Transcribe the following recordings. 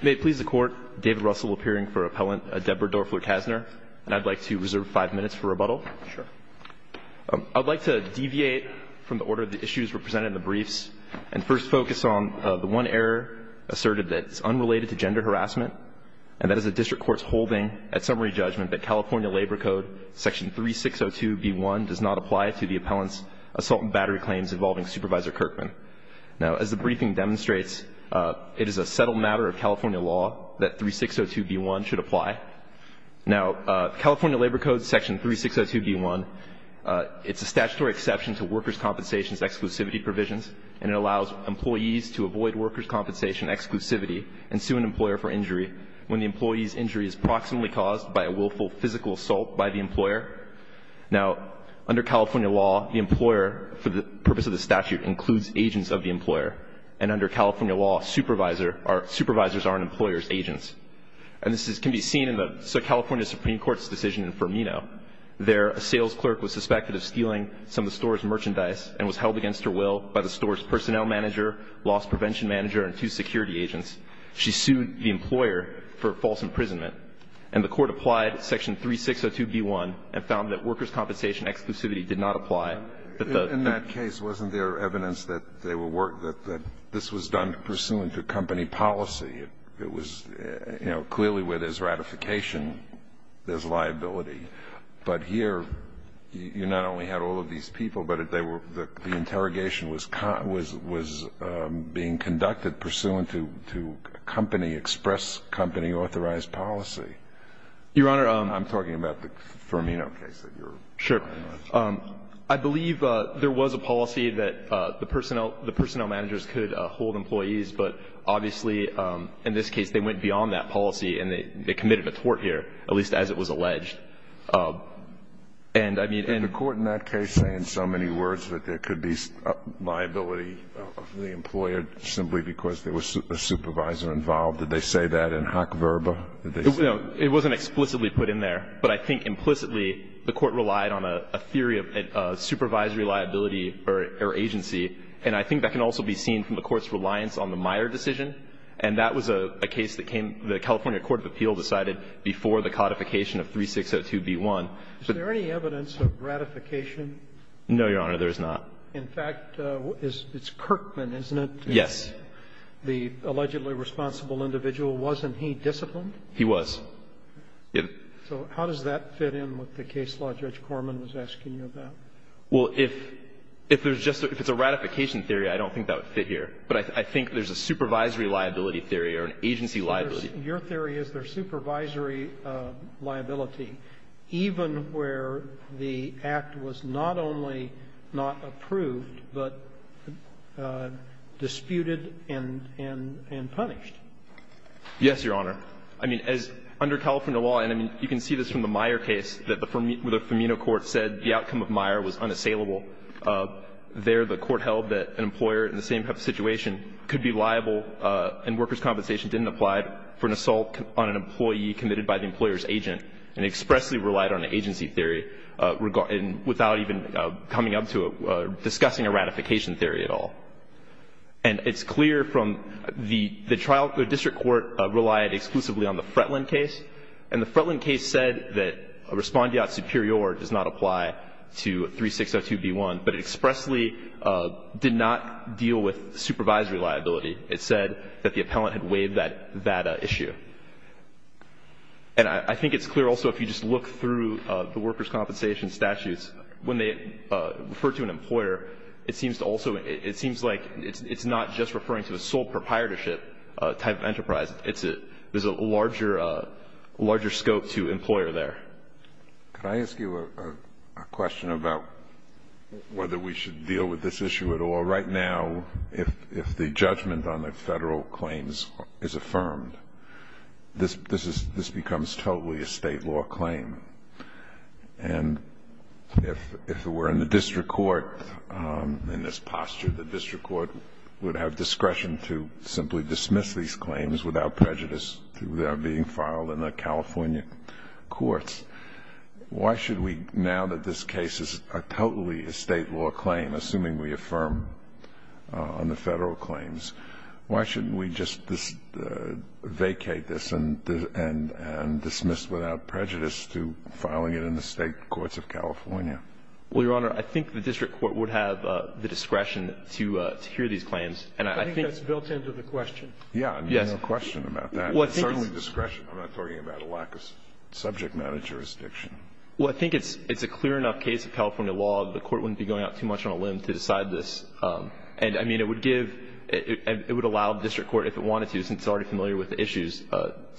May it please the Court, David Russell appearing for Appellant Deborah Doerfler-Casner. And I'd like to reserve five minutes for rebuttal. Sure. I'd like to deviate from the order of the issues represented in the briefs and first focus on the one error asserted that's unrelated to gender harassment, and that is the District Court's holding at summary judgment that California Labor Code Section 3602B1 does not apply to the appellant's assault and battery claims involving Supervisor Kirkman. Now, as the briefing demonstrates, it is a settled matter of California law that 3602B1 should apply. Now, California Labor Code Section 3602B1, it's a statutory exception to workers' compensation exclusivity provisions, and it allows employees to avoid workers' compensation exclusivity and sue an employer for injury when the employee's injury is proximately caused by a willful physical assault by the employer. Now, under California law, the employer, for the purpose of the statute, includes agents of the employer. And under California law, supervisors are an employer's agents. And this can be seen in the California Supreme Court's decision in Firmino. There, a sales clerk was suspected of stealing some of the store's merchandise and was held against her will by the store's personnel manager, loss prevention manager, and two security agents. She sued the employer for false imprisonment. And the Court applied Section 3602B1 and found that workers' compensation exclusivity did not apply. That the ---- In that case, wasn't there evidence that they were ---- that this was done pursuant to company policy? It was, you know, clearly where there's ratification, there's liability. But here, you not only had all of these people, but they were ---- the interrogation was being conducted pursuant to company, express company, authorized policy. Your Honor ---- I'm talking about the Firmino case that you're ---- Sure. I believe there was a policy that the personnel managers could hold employees, but obviously in this case they went beyond that policy and they committed a tort here, at least as it was alleged. And I mean ---- Did the Court in that case say in so many words that there could be liability for the employer simply because there was a supervisor involved? Did they say that in hoc verba? Did they say that? It wasn't explicitly put in there, but I think implicitly the Court relied on a theory of supervisory liability or agency. And I think that can also be seen from the Court's reliance on the Meyer decision. And that was a case that came ---- the California court of appeals decided before the codification of 3602B1. Is there any evidence of ratification? No, Your Honor, there is not. In fact, it's Kirkman, isn't it? Yes. The allegedly responsible individual, wasn't he disciplined? He was. So how does that fit in with the case law Judge Corman was asking you about? Well, if there's just a ---- if it's a ratification theory, I don't think that would fit here. But I think there's a supervisory liability theory or an agency liability. Your theory is there's supervisory liability even where the act was not only not approved, but disputed and punished. Yes, Your Honor. I mean, as under California law, and I mean, you can see this from the Meyer case, that the Firmino court said the outcome of Meyer was unassailable. There the court held that an employer in the same type of situation could be liable and workers' compensation didn't apply for an assault on an employee committed by the employer's agent and expressly relied on an agency theory without even coming up to discussing a ratification theory at all. And it's clear from the district court relied exclusively on the Fretland case, and the Fretland case said that a respondeat superior does not apply to 3602B1, but it expressly did not deal with supervisory liability. It said that the appellant had waived that issue. And I think it's clear also if you just look through the workers' compensation statutes, when they refer to an employer, it seems to also ‑‑ it seems like it's not just referring to the sole proprietorship type of enterprise. There's a larger scope to employer there. Can I ask you a question about whether we should deal with this issue at all? Right now, if the judgment on the federal claims is affirmed, this becomes totally a state law claim. And if it were in the district court in this posture, the district court would have discretion to simply dismiss these claims without prejudice through their being filed in the California courts. Why should we, now that this case is totally a state law claim, assuming we affirm on the federal claims, why shouldn't we just vacate this and dismiss without prejudice through filing it in the state courts of California? Well, Your Honor, I think the district court would have the discretion to hear these claims, and I think ‑‑ I think that's built into the question. Yes. I have no question about that. It's certainly discretion. I'm not talking about a lack of subject matter jurisdiction. Well, I think it's a clear enough case of California law that the court wouldn't be going out too much on a limb to decide this. And, I mean, it would give ‑‑ it would allow the district court, if it wanted to, since it's already familiar with the issues,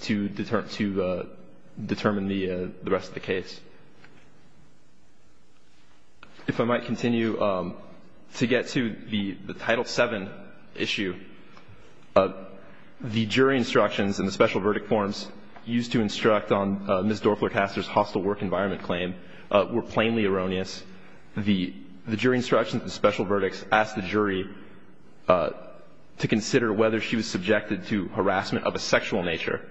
to determine the rest of the case. If I might continue to get to the Title VII issue, the jury instructions and the special verdict forms used to instruct on Ms. Dorfler-Castor's hostile work environment claim were plainly erroneous. The jury instructions and the special verdicts asked the jury to consider whether she was subjected to harassment of a sexual nature.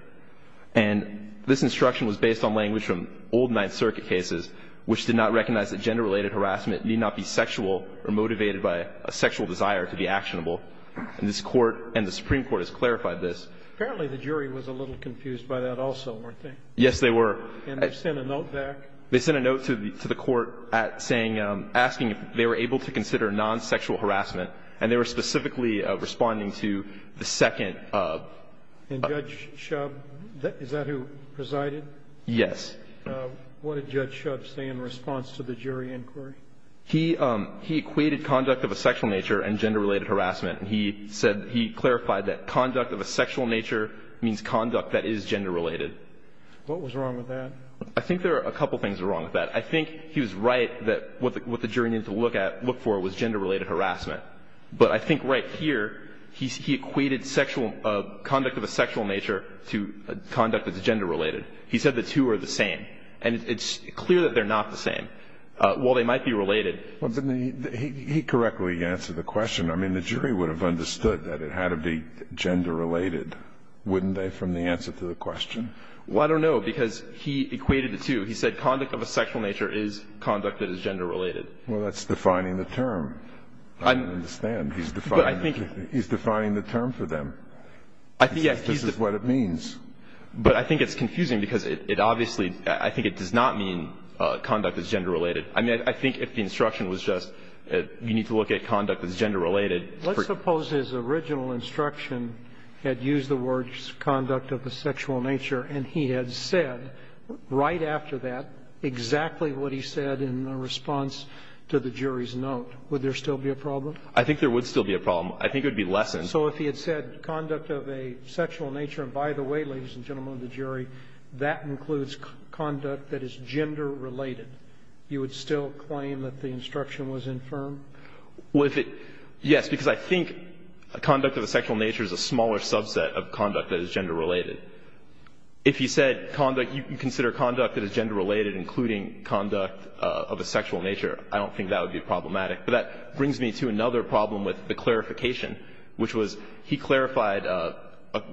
And this instruction was based on language from old Ninth Circuit cases, which did not recognize that gender-related harassment need not be sexual or motivated by a sexual desire to be actionable. And this Court and the Supreme Court has clarified this. Apparently, the jury was a little confused by that also, weren't they? Yes, they were. And they sent a note back? They sent a note to the court asking if they were able to consider non-sexual harassment. And they were specifically responding to the second. And Judge Shub? Is that who presided? Yes. What did Judge Shub say in response to the jury inquiry? He equated conduct of a sexual nature and gender-related harassment. And he said he clarified that conduct of a sexual nature means conduct that is gender-related. What was wrong with that? I think there are a couple things wrong with that. I think he was right that what the jury needed to look for was gender-related harassment. But I think right here he equated conduct of a sexual nature to conduct that's gender-related. He said the two are the same. And it's clear that they're not the same. While they might be related. He correctly answered the question. I mean, the jury would have understood that it had to be gender-related, wouldn't they, from the answer to the question? Well, I don't know. Because he equated the two. He said conduct of a sexual nature is conduct that is gender-related. Well, that's defining the term. I don't understand. He's defining the term for them. He says this is what it means. But I think it's confusing because it obviously does not mean conduct is gender-related. I mean, I think if the instruction was just you need to look at conduct that's gender-related. Let's suppose his original instruction had used the words conduct of a sexual nature, and he had said right after that exactly what he said in response to the jury's note. Would there still be a problem? I think there would still be a problem. I think there would be lessons. So if he had said conduct of a sexual nature, and by the way, ladies and gentlemen of the jury, that includes conduct that is gender-related. You would still claim that the instruction was infirm? Well, if it – yes, because I think conduct of a sexual nature is a smaller subset of conduct that is gender-related. If he said conduct – you consider conduct that is gender-related including conduct of a sexual nature, I don't think that would be problematic. But that brings me to another problem with the clarification, which was he clarified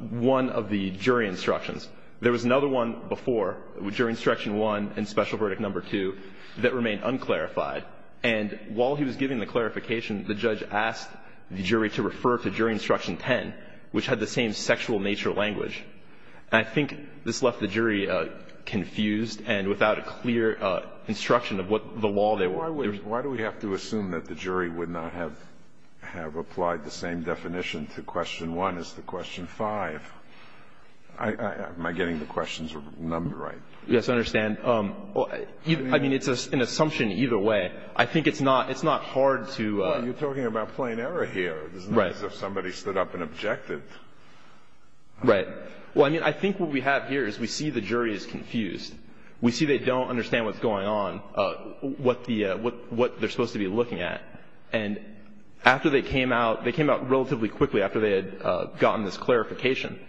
one of the jury instructions. There was another one before, jury instruction one and special verdict number two, that remained un-clarified. And while he was giving the clarification, the judge asked the jury to refer to jury instruction 10, which had the same sexual nature language. And I think this left the jury confused and without a clear instruction of what the law there was. Why do we have to assume that the jury would not have applied the same definition to question one as to question five? Am I getting the questions right? Yes, I understand. I mean, it's an assumption either way. I think it's not hard to – Well, you're talking about plain error here. Right. It's not as if somebody stood up and objected. Right. Well, I mean, I think what we have here is we see the jury is confused. We see they don't understand what's going on, what they're supposed to be looking at. And after they came out, they came out relatively quickly after they had gotten this clarification.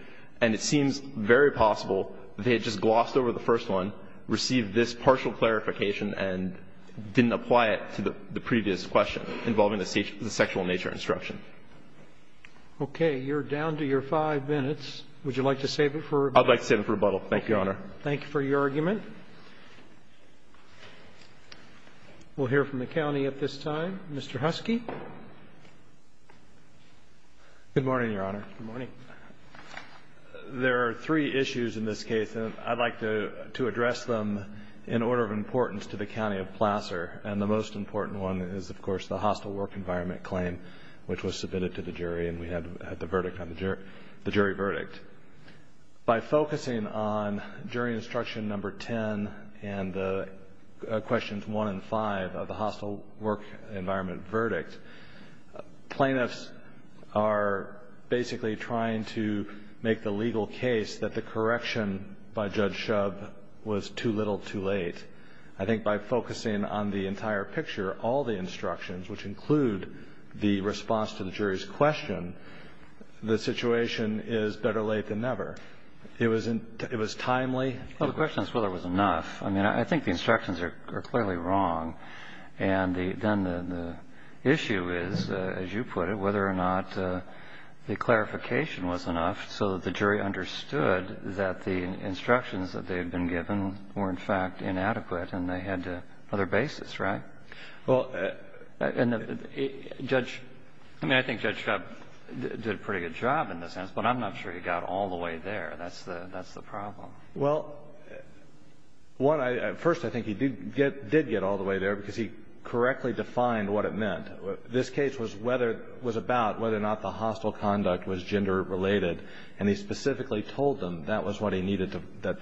And it seems very possible they had just glossed over the first one, received this partial clarification, and didn't apply it to the previous question involving the sexual nature instruction. Okay. You're down to your five minutes. Would you like to save it for rebuttal? I'd like to save it for rebuttal. Thank you, Your Honor. Thank you for your argument. We'll hear from the county at this time. Mr. Husky. Good morning, Your Honor. Good morning. There are three issues in this case, and I'd like to address them in order of importance to the County of Placer. And the most important one is, of course, the hostile work environment claim, which was submitted to the jury, and we had the verdict on the jury – the jury verdict. By focusing on jury instruction number 10 and questions 1 and 5 of the hostile work environment verdict, plaintiffs are basically trying to make the legal case that the correction by Judge Shubb was too little, too late. I think by focusing on the entire picture, all the instructions, which include the I think the instructions are clearly wrong. And then the issue is, as you put it, whether or not the clarification was enough so that the jury understood that the instructions that they had been given were, in fact, inadequate and they had other basis, right? Well, and Judge – I mean, I think Judge Shubb did a pretty good job in this sense, but I'm not sure he got all the way there. That's the problem. Well, what I – first, I think he did get all the way there because he correctly defined what it meant. This case was about whether or not the hostile conduct was gender-related, and he specifically told them that was what he needed to – that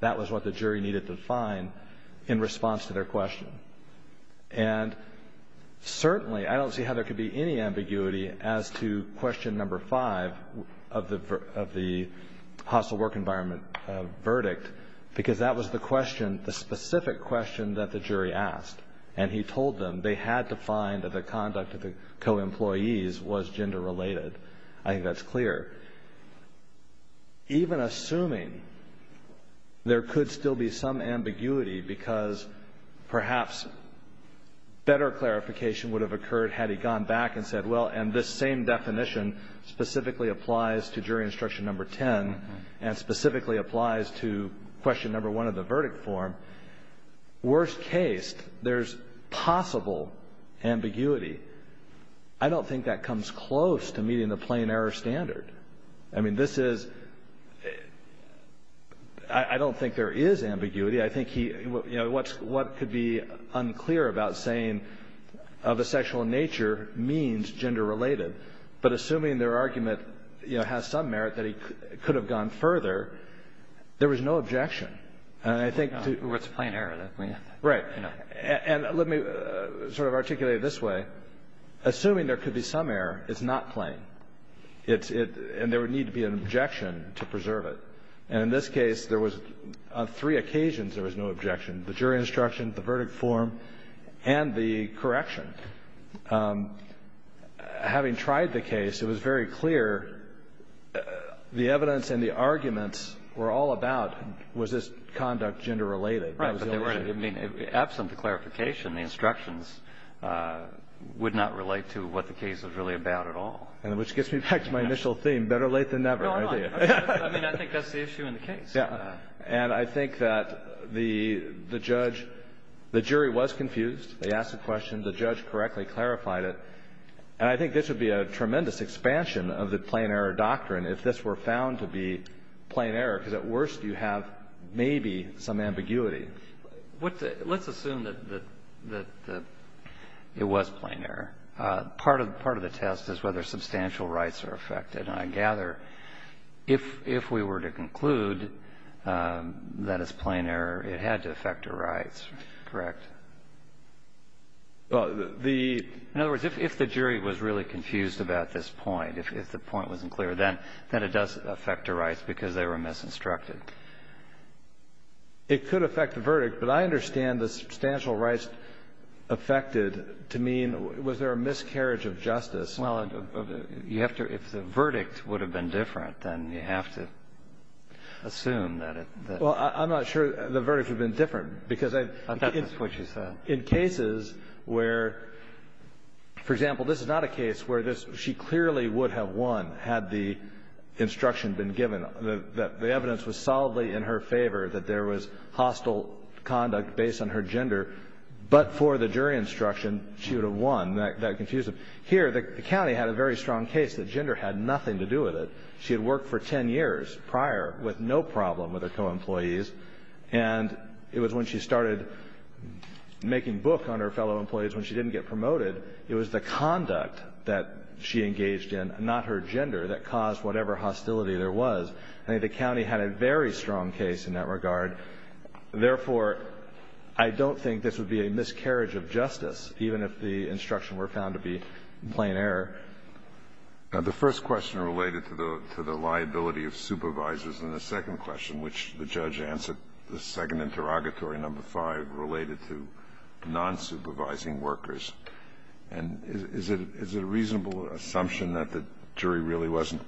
that was what the jury needed to find in response to their question. And certainly, I don't see how there could be any ambiguity as to question number five of the hostile work environment verdict, because that was the question, the specific question that the jury asked. And he told them they had to find that the conduct of the co-employees was gender-related. I think that's clear. Even assuming there could still be some ambiguity because, perhaps, better clarification would have occurred had he gone back and said, well, and this same definition specifically applies to jury instruction number 10 and specifically applies to question number one of the verdict form. Worst case, there's possible ambiguity. I don't think that comes close to meeting the plain error standard. I mean, this is – I don't think there is ambiguity. I think he – what could be unclear about saying of a sexual nature means gender-related, but assuming their argument has some merit that he could have gone further, there was no objection. And I think to – Well, it's a plain error. Right. And let me sort of articulate it this way. Assuming there could be some error, it's not plain. It's – and there would need to be an objection to preserve it. And in this case, there was – on three occasions there was no objection, the jury instruction, the verdict form, and the correction. Having tried the case, it was very clear the evidence and the arguments were all about was this conduct gender-related. Right. But there were – I mean, absent the clarification, the instructions would not relate to what the case was really about at all. Which gets me back to my initial theme, better late than never. No, I'm not. I mean, I think that's the issue in the case. Yeah. And I think that the judge – the jury was confused. They asked the question. The judge correctly clarified it. And I think this would be a tremendous expansion of the plain error doctrine if this were found to be plain error, because at worst you have maybe some ambiguity. Let's assume that it was plain error. Part of the test is whether substantial rights are affected. And I gather if we were to conclude that it's plain error, it had to affect her rights. Correct? Well, the – In other words, if the jury was really confused about this point, if the point wasn't It could affect the verdict. But I understand the substantial rights affected to mean was there a miscarriage of justice. Well, you have to – if the verdict would have been different, then you have to assume that it – Well, I'm not sure the verdict would have been different, because I – I thought that's what you said. In cases where, for example, this is not a case where she clearly would have won had the instruction been given. The evidence was solidly in her favor that there was hostile conduct based on her gender. But for the jury instruction, she would have won. That confused them. Here, the county had a very strong case that gender had nothing to do with it. She had worked for 10 years prior with no problem with her co-employees. And it was when she started making book on her fellow employees when she didn't get promoted, it was the conduct that she engaged in, not her gender, that caused whatever hostility there was. I think the county had a very strong case in that regard. Therefore, I don't think this would be a miscarriage of justice, even if the instruction were found to be in plain error. The first question related to the liability of supervisors. And the second question, which the judge answered, the second interrogatory, number five, related to non-supervising workers. And is it a reasonable assumption that the jury really wasn't,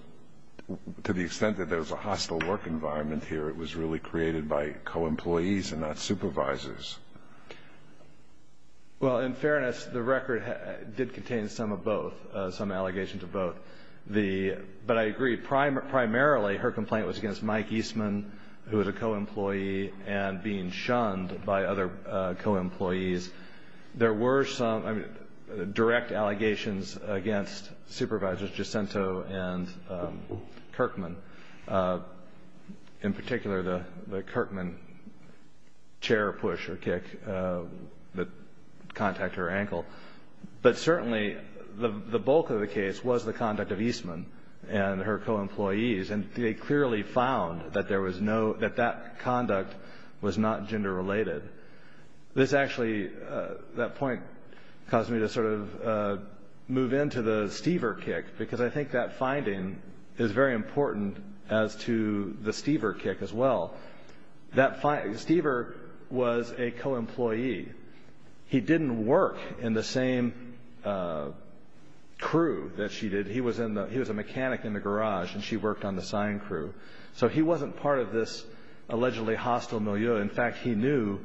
to the extent that there was a hostile work environment here, it was really created by co-employees and not supervisors? Well, in fairness, the record did contain some of both, some allegations of both. But I agree, primarily her complaint was against Mike Eastman, who was a co-employee, and being shunned by other co-employees. There were some direct allegations against supervisors, Jacinto and Kirkman. In particular, the Kirkman chair push or kick that contact her ankle. But certainly the bulk of the case was the conduct of Eastman and her co-employees. And they clearly found that that conduct was not gender-related. This actually, that point caused me to sort of move into the Stever kick, because I think that finding is very important as to the Stever kick as well. Stever was a co-employee. He didn't work in the same crew that she did. He was a mechanic in the garage, and she worked on the sign crew. So he wasn't part of this allegedly hostile milieu. In fact, he knew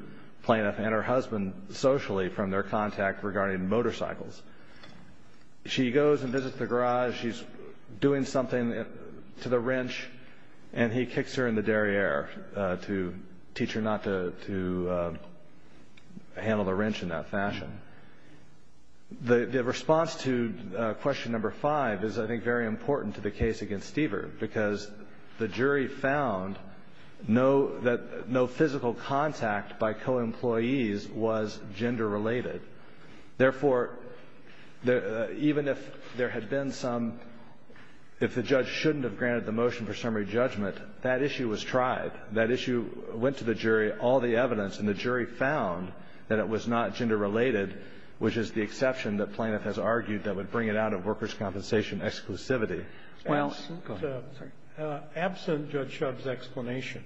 Planoff and her husband socially from their contact regarding motorcycles. She goes and visits the garage. She's doing something to the wrench, and he kicks her in the derriere to teach her not to handle the wrench in that fashion. The response to question number five is, I think, very important to the case against Stever, because the jury found that no physical contact by co-employees was gender-related. Therefore, even if there had been some, if the judge shouldn't have granted the motion for summary judgment, that issue was tried. That issue went to the jury, all the evidence, and the jury found that it was not gender-related, which is the exception that Planoff has argued that would bring it out of workers' compensation exclusivity. Well, absent Judge Shub's explanation,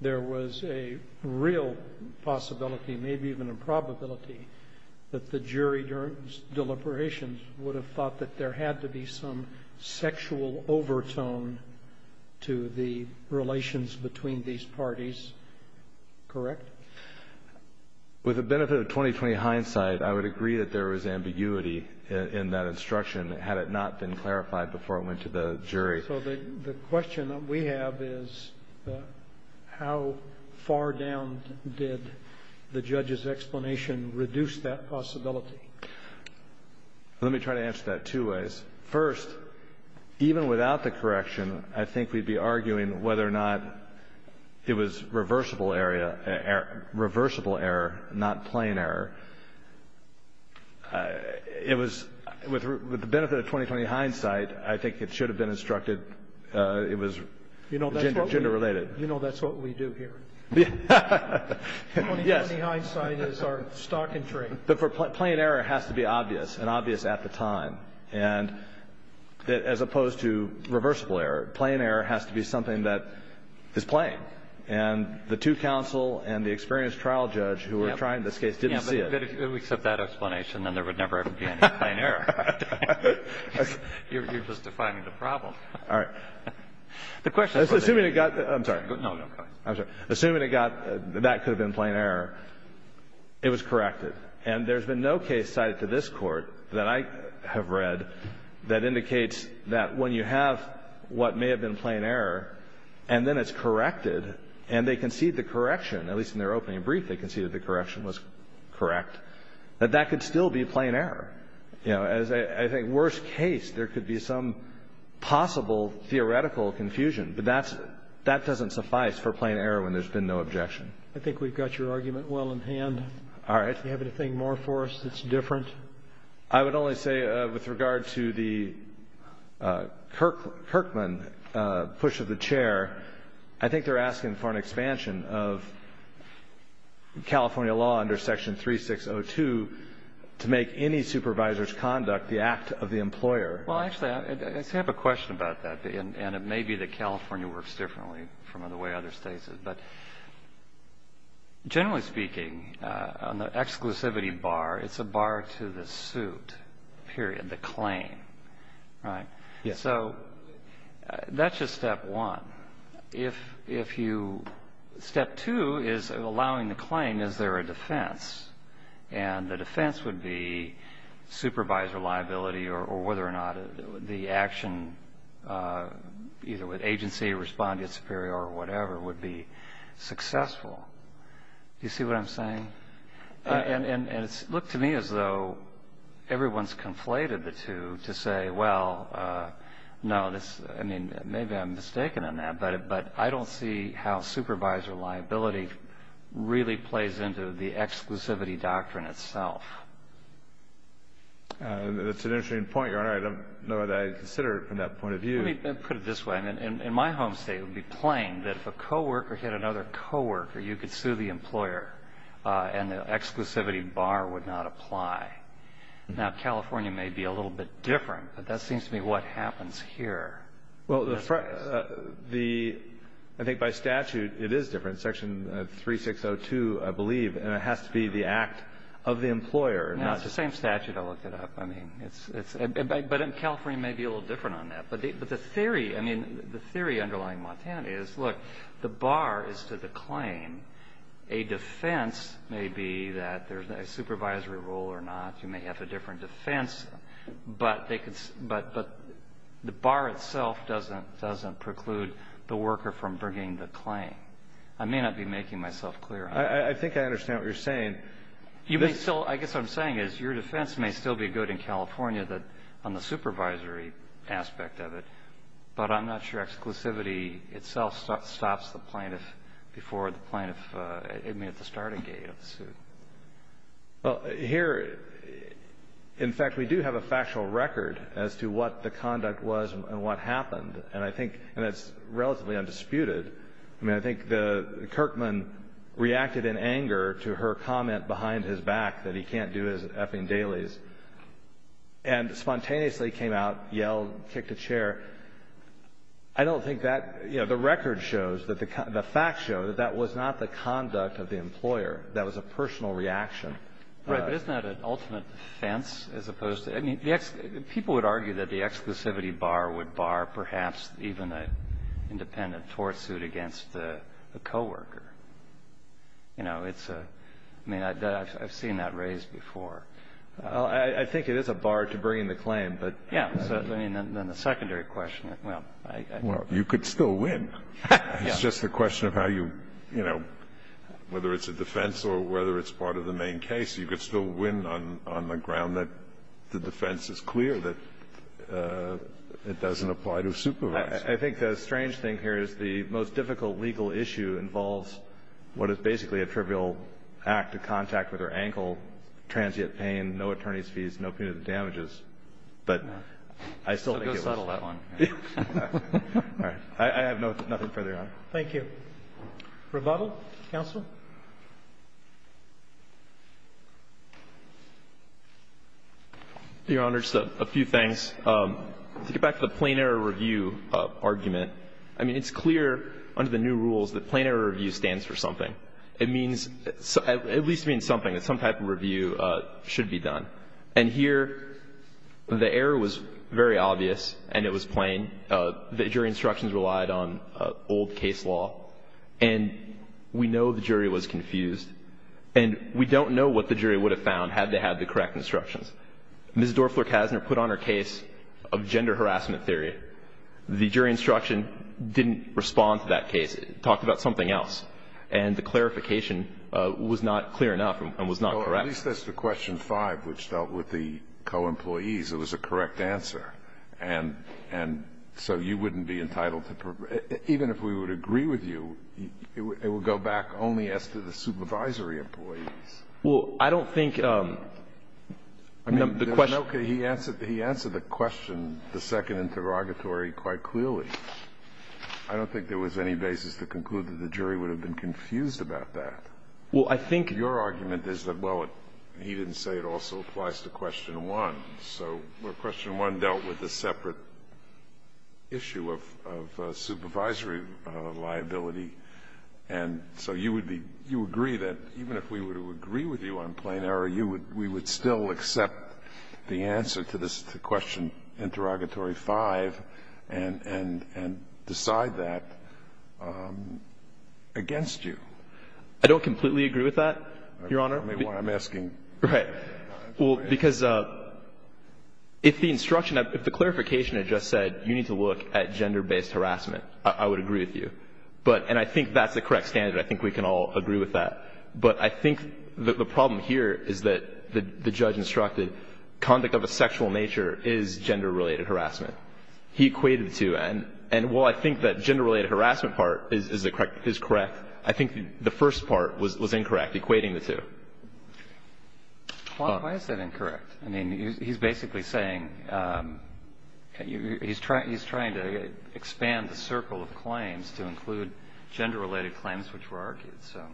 there was a real possibility, maybe even a probability, that the jury, during deliberations, would have thought that there had to be some sexual overtone to the relations between these parties. Correct? With the benefit of 20-20 hindsight, I would agree that there was ambiguity in that instruction, had it not been clarified before it went to the jury. So the question that we have is, how far down did the judge's explanation reduce that possibility? Let me try to answer that two ways. First, even without the correction, I think we'd be arguing whether or not it was reversible error, not plain error. It was, with the benefit of 20-20 hindsight, I think it should have been instructed it was gender-related. You know that's what we do here. Yes. 20-20 hindsight is our stock and trade. But plain error has to be obvious, and obvious at the time. And as opposed to reversible error, plain error has to be something that is plain. And the two counsel and the experienced trial judge who were trying this case didn't see it. Yeah. But if we accept that explanation, then there would never ever be any plain error. You're just defining the problem. All right. The question is, assuming it got the – I'm sorry. No, no. I'm sorry. Assuming it got – that could have been plain error, it was corrected. And there's been no case cited to this Court that I have read that indicates that when you have what may have been plain error and then it's corrected and they concede the correction, at least in their opening brief they conceded the correction was correct, that that could still be plain error. You know, as I think worst case, there could be some possible theoretical confusion. But that's – that doesn't suffice for plain error when there's been no objection. I think we've got your argument well in hand. All right. Do you have anything more for us that's different? I would only say with regard to the Kirkman push of the chair, I think they're asking for an expansion of California law under Section 3602 to make any supervisor's conduct the act of the employer. Well, actually, I have a question about that. And it may be that California works differently from the way other states have. But generally speaking, on the exclusivity bar, it's a bar to the suit, period, the claim. Right? Yes. So that's just step one. If you – step two is allowing the claim, is there a defense? And the defense would be supervisor liability or whether or not the action, either with agency or respond to its superior or whatever, would be successful. Do you see what I'm saying? And it's looked to me as though everyone's conflated the two to say, well, no, this – I mean, maybe I'm mistaken on that. But I don't see how supervisor liability really plays into the exclusivity doctrine itself. That's an interesting point, Your Honor. I don't know that I consider it from that point of view. Let me put it this way. In my home state, it would be plain that if a coworker hit another coworker, you could sue the employer and the exclusivity bar would not apply. Now, California may be a little bit different, but that seems to me what happens here. Well, the – I think by statute, it is different. Section 3602, I believe, has to be the act of the employer. No, it's the same statute. I looked it up. I mean, it's – but California may be a little different on that. But the theory – I mean, the theory underlying Montana is, look, the bar is to the claim. A defense may be that there's a supervisory role or not. You may have a different defense. But they could – but the bar itself doesn't preclude the worker from bringing the claim. I may not be making myself clear on that. I think I understand what you're saying. You may still – I guess what I'm saying is your defense may still be good in California on the supervisory aspect of it, but I'm not sure exclusivity itself stops the plaintiff before the plaintiff – I mean, at the starting gate of the suit. Well, here, in fact, we do have a factual record as to what the conduct was and what happened. And I think – and it's relatively undisputed. I mean, I think the – Kirkman reacted in anger to her comment behind his back that he can't do his effing dailies and spontaneously came out, yelled, kicked a chair. I don't think that – you know, the record shows that the – the facts show that that was not the conduct of the employer. That was a personal reaction. Right, but isn't that an ultimate defense as opposed to – I mean, the – You know, it's a – I mean, I've seen that raised before. Well, I think it is a bar to bringing the claim, but – Yeah, so, I mean, then the secondary question, well, I – Well, you could still win. It's just a question of how you – you know, whether it's a defense or whether it's part of the main case, you could still win on the ground that the defense is clear, that it doesn't apply to supervising. I think the strange thing here is the most difficult legal issue involves what is basically a trivial act of contact with her ankle, transient pain, no attorney's fees, no punitive damages. But I still think it was – So go settle that one. All right. I have no – nothing further to add. Thank you. Rebuttal? Counsel? Your Honor, just a few things. To get back to the plain error review argument, I mean, it's clear under the new rules that plain error review stands for something. It means – it at least means something, that some type of review should be done. And here, the error was very obvious and it was plain. The jury instructions relied on old case law. And we know the jury was confused. And we don't know what the jury would have found had they had the correct instructions. Ms. Dorfler-Kasner put on her case of gender harassment theory. The jury instruction didn't respond to that case. It talked about something else. And the clarification was not clear enough and was not correct. Well, at least that's the question five, which dealt with the co-employees. It was a correct answer. And so you wouldn't be entitled to – even if we would agree with you, it would go back only as to the supervisory employees. Well, I don't think the question – Okay. He answered the question, the second interrogatory, quite clearly. I don't think there was any basis to conclude that the jury would have been confused about that. Well, I think – Your argument is that, well, he didn't say it also applies to question one. So question one dealt with a separate issue of supervisory liability. And so you agree that even if we were to agree with you on plain error, we would still accept the answer to question interrogatory five and decide that against you. I don't completely agree with that, Your Honor. Tell me why I'm asking. Right. Well, because if the instruction – if the clarification had just said you need to look at gender-based harassment, I would agree with you. But – and I think that's the correct standard. I think we can all agree with that. But I think the problem here is that the judge instructed conduct of a sexual nature is gender-related harassment. He equated the two. And while I think that gender-related harassment part is correct, I think the first part was incorrect, equating the two. Why is that incorrect? I mean, he's basically saying – he's trying to expand the circle of claims to include gender-related claims, which were argued. So.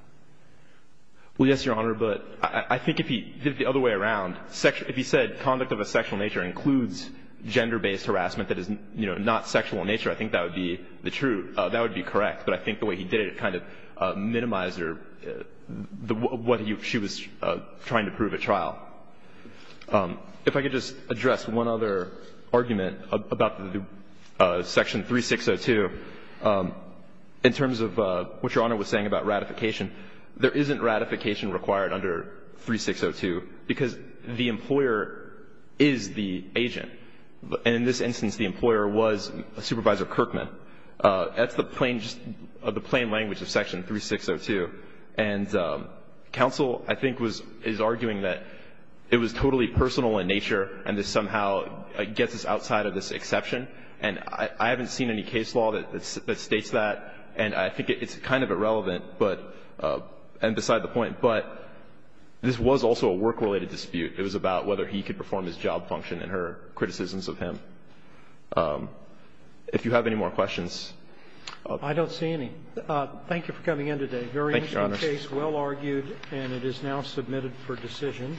Well, yes, Your Honor. But I think if he did it the other way around, if he said conduct of a sexual nature includes gender-based harassment that is, you know, not sexual in nature, I think that would be the true – that would be correct. But I think the way he did it kind of minimized her – what she was trying to prove at trial. If I could just address one other argument about Section 3602 in terms of what Your Honor was saying about ratification. There isn't ratification required under 3602 because the employer is the agent. And in this instance, the employer was Supervisor Kirkman. That's the plain – just the plain language of Section 3602. And counsel, I think, was – is arguing that it was totally personal in nature and this somehow gets us outside of this exception. And I haven't seen any case law that states that. And I think it's kind of irrelevant, but – and beside the point. But this was also a work-related dispute. It was about whether he could perform his job function and her criticisms of him. If you have any more questions. I don't see any. Thank you for coming in today. Thank you, Your Honor. Very interesting case, well argued, and it is now submitted for decision.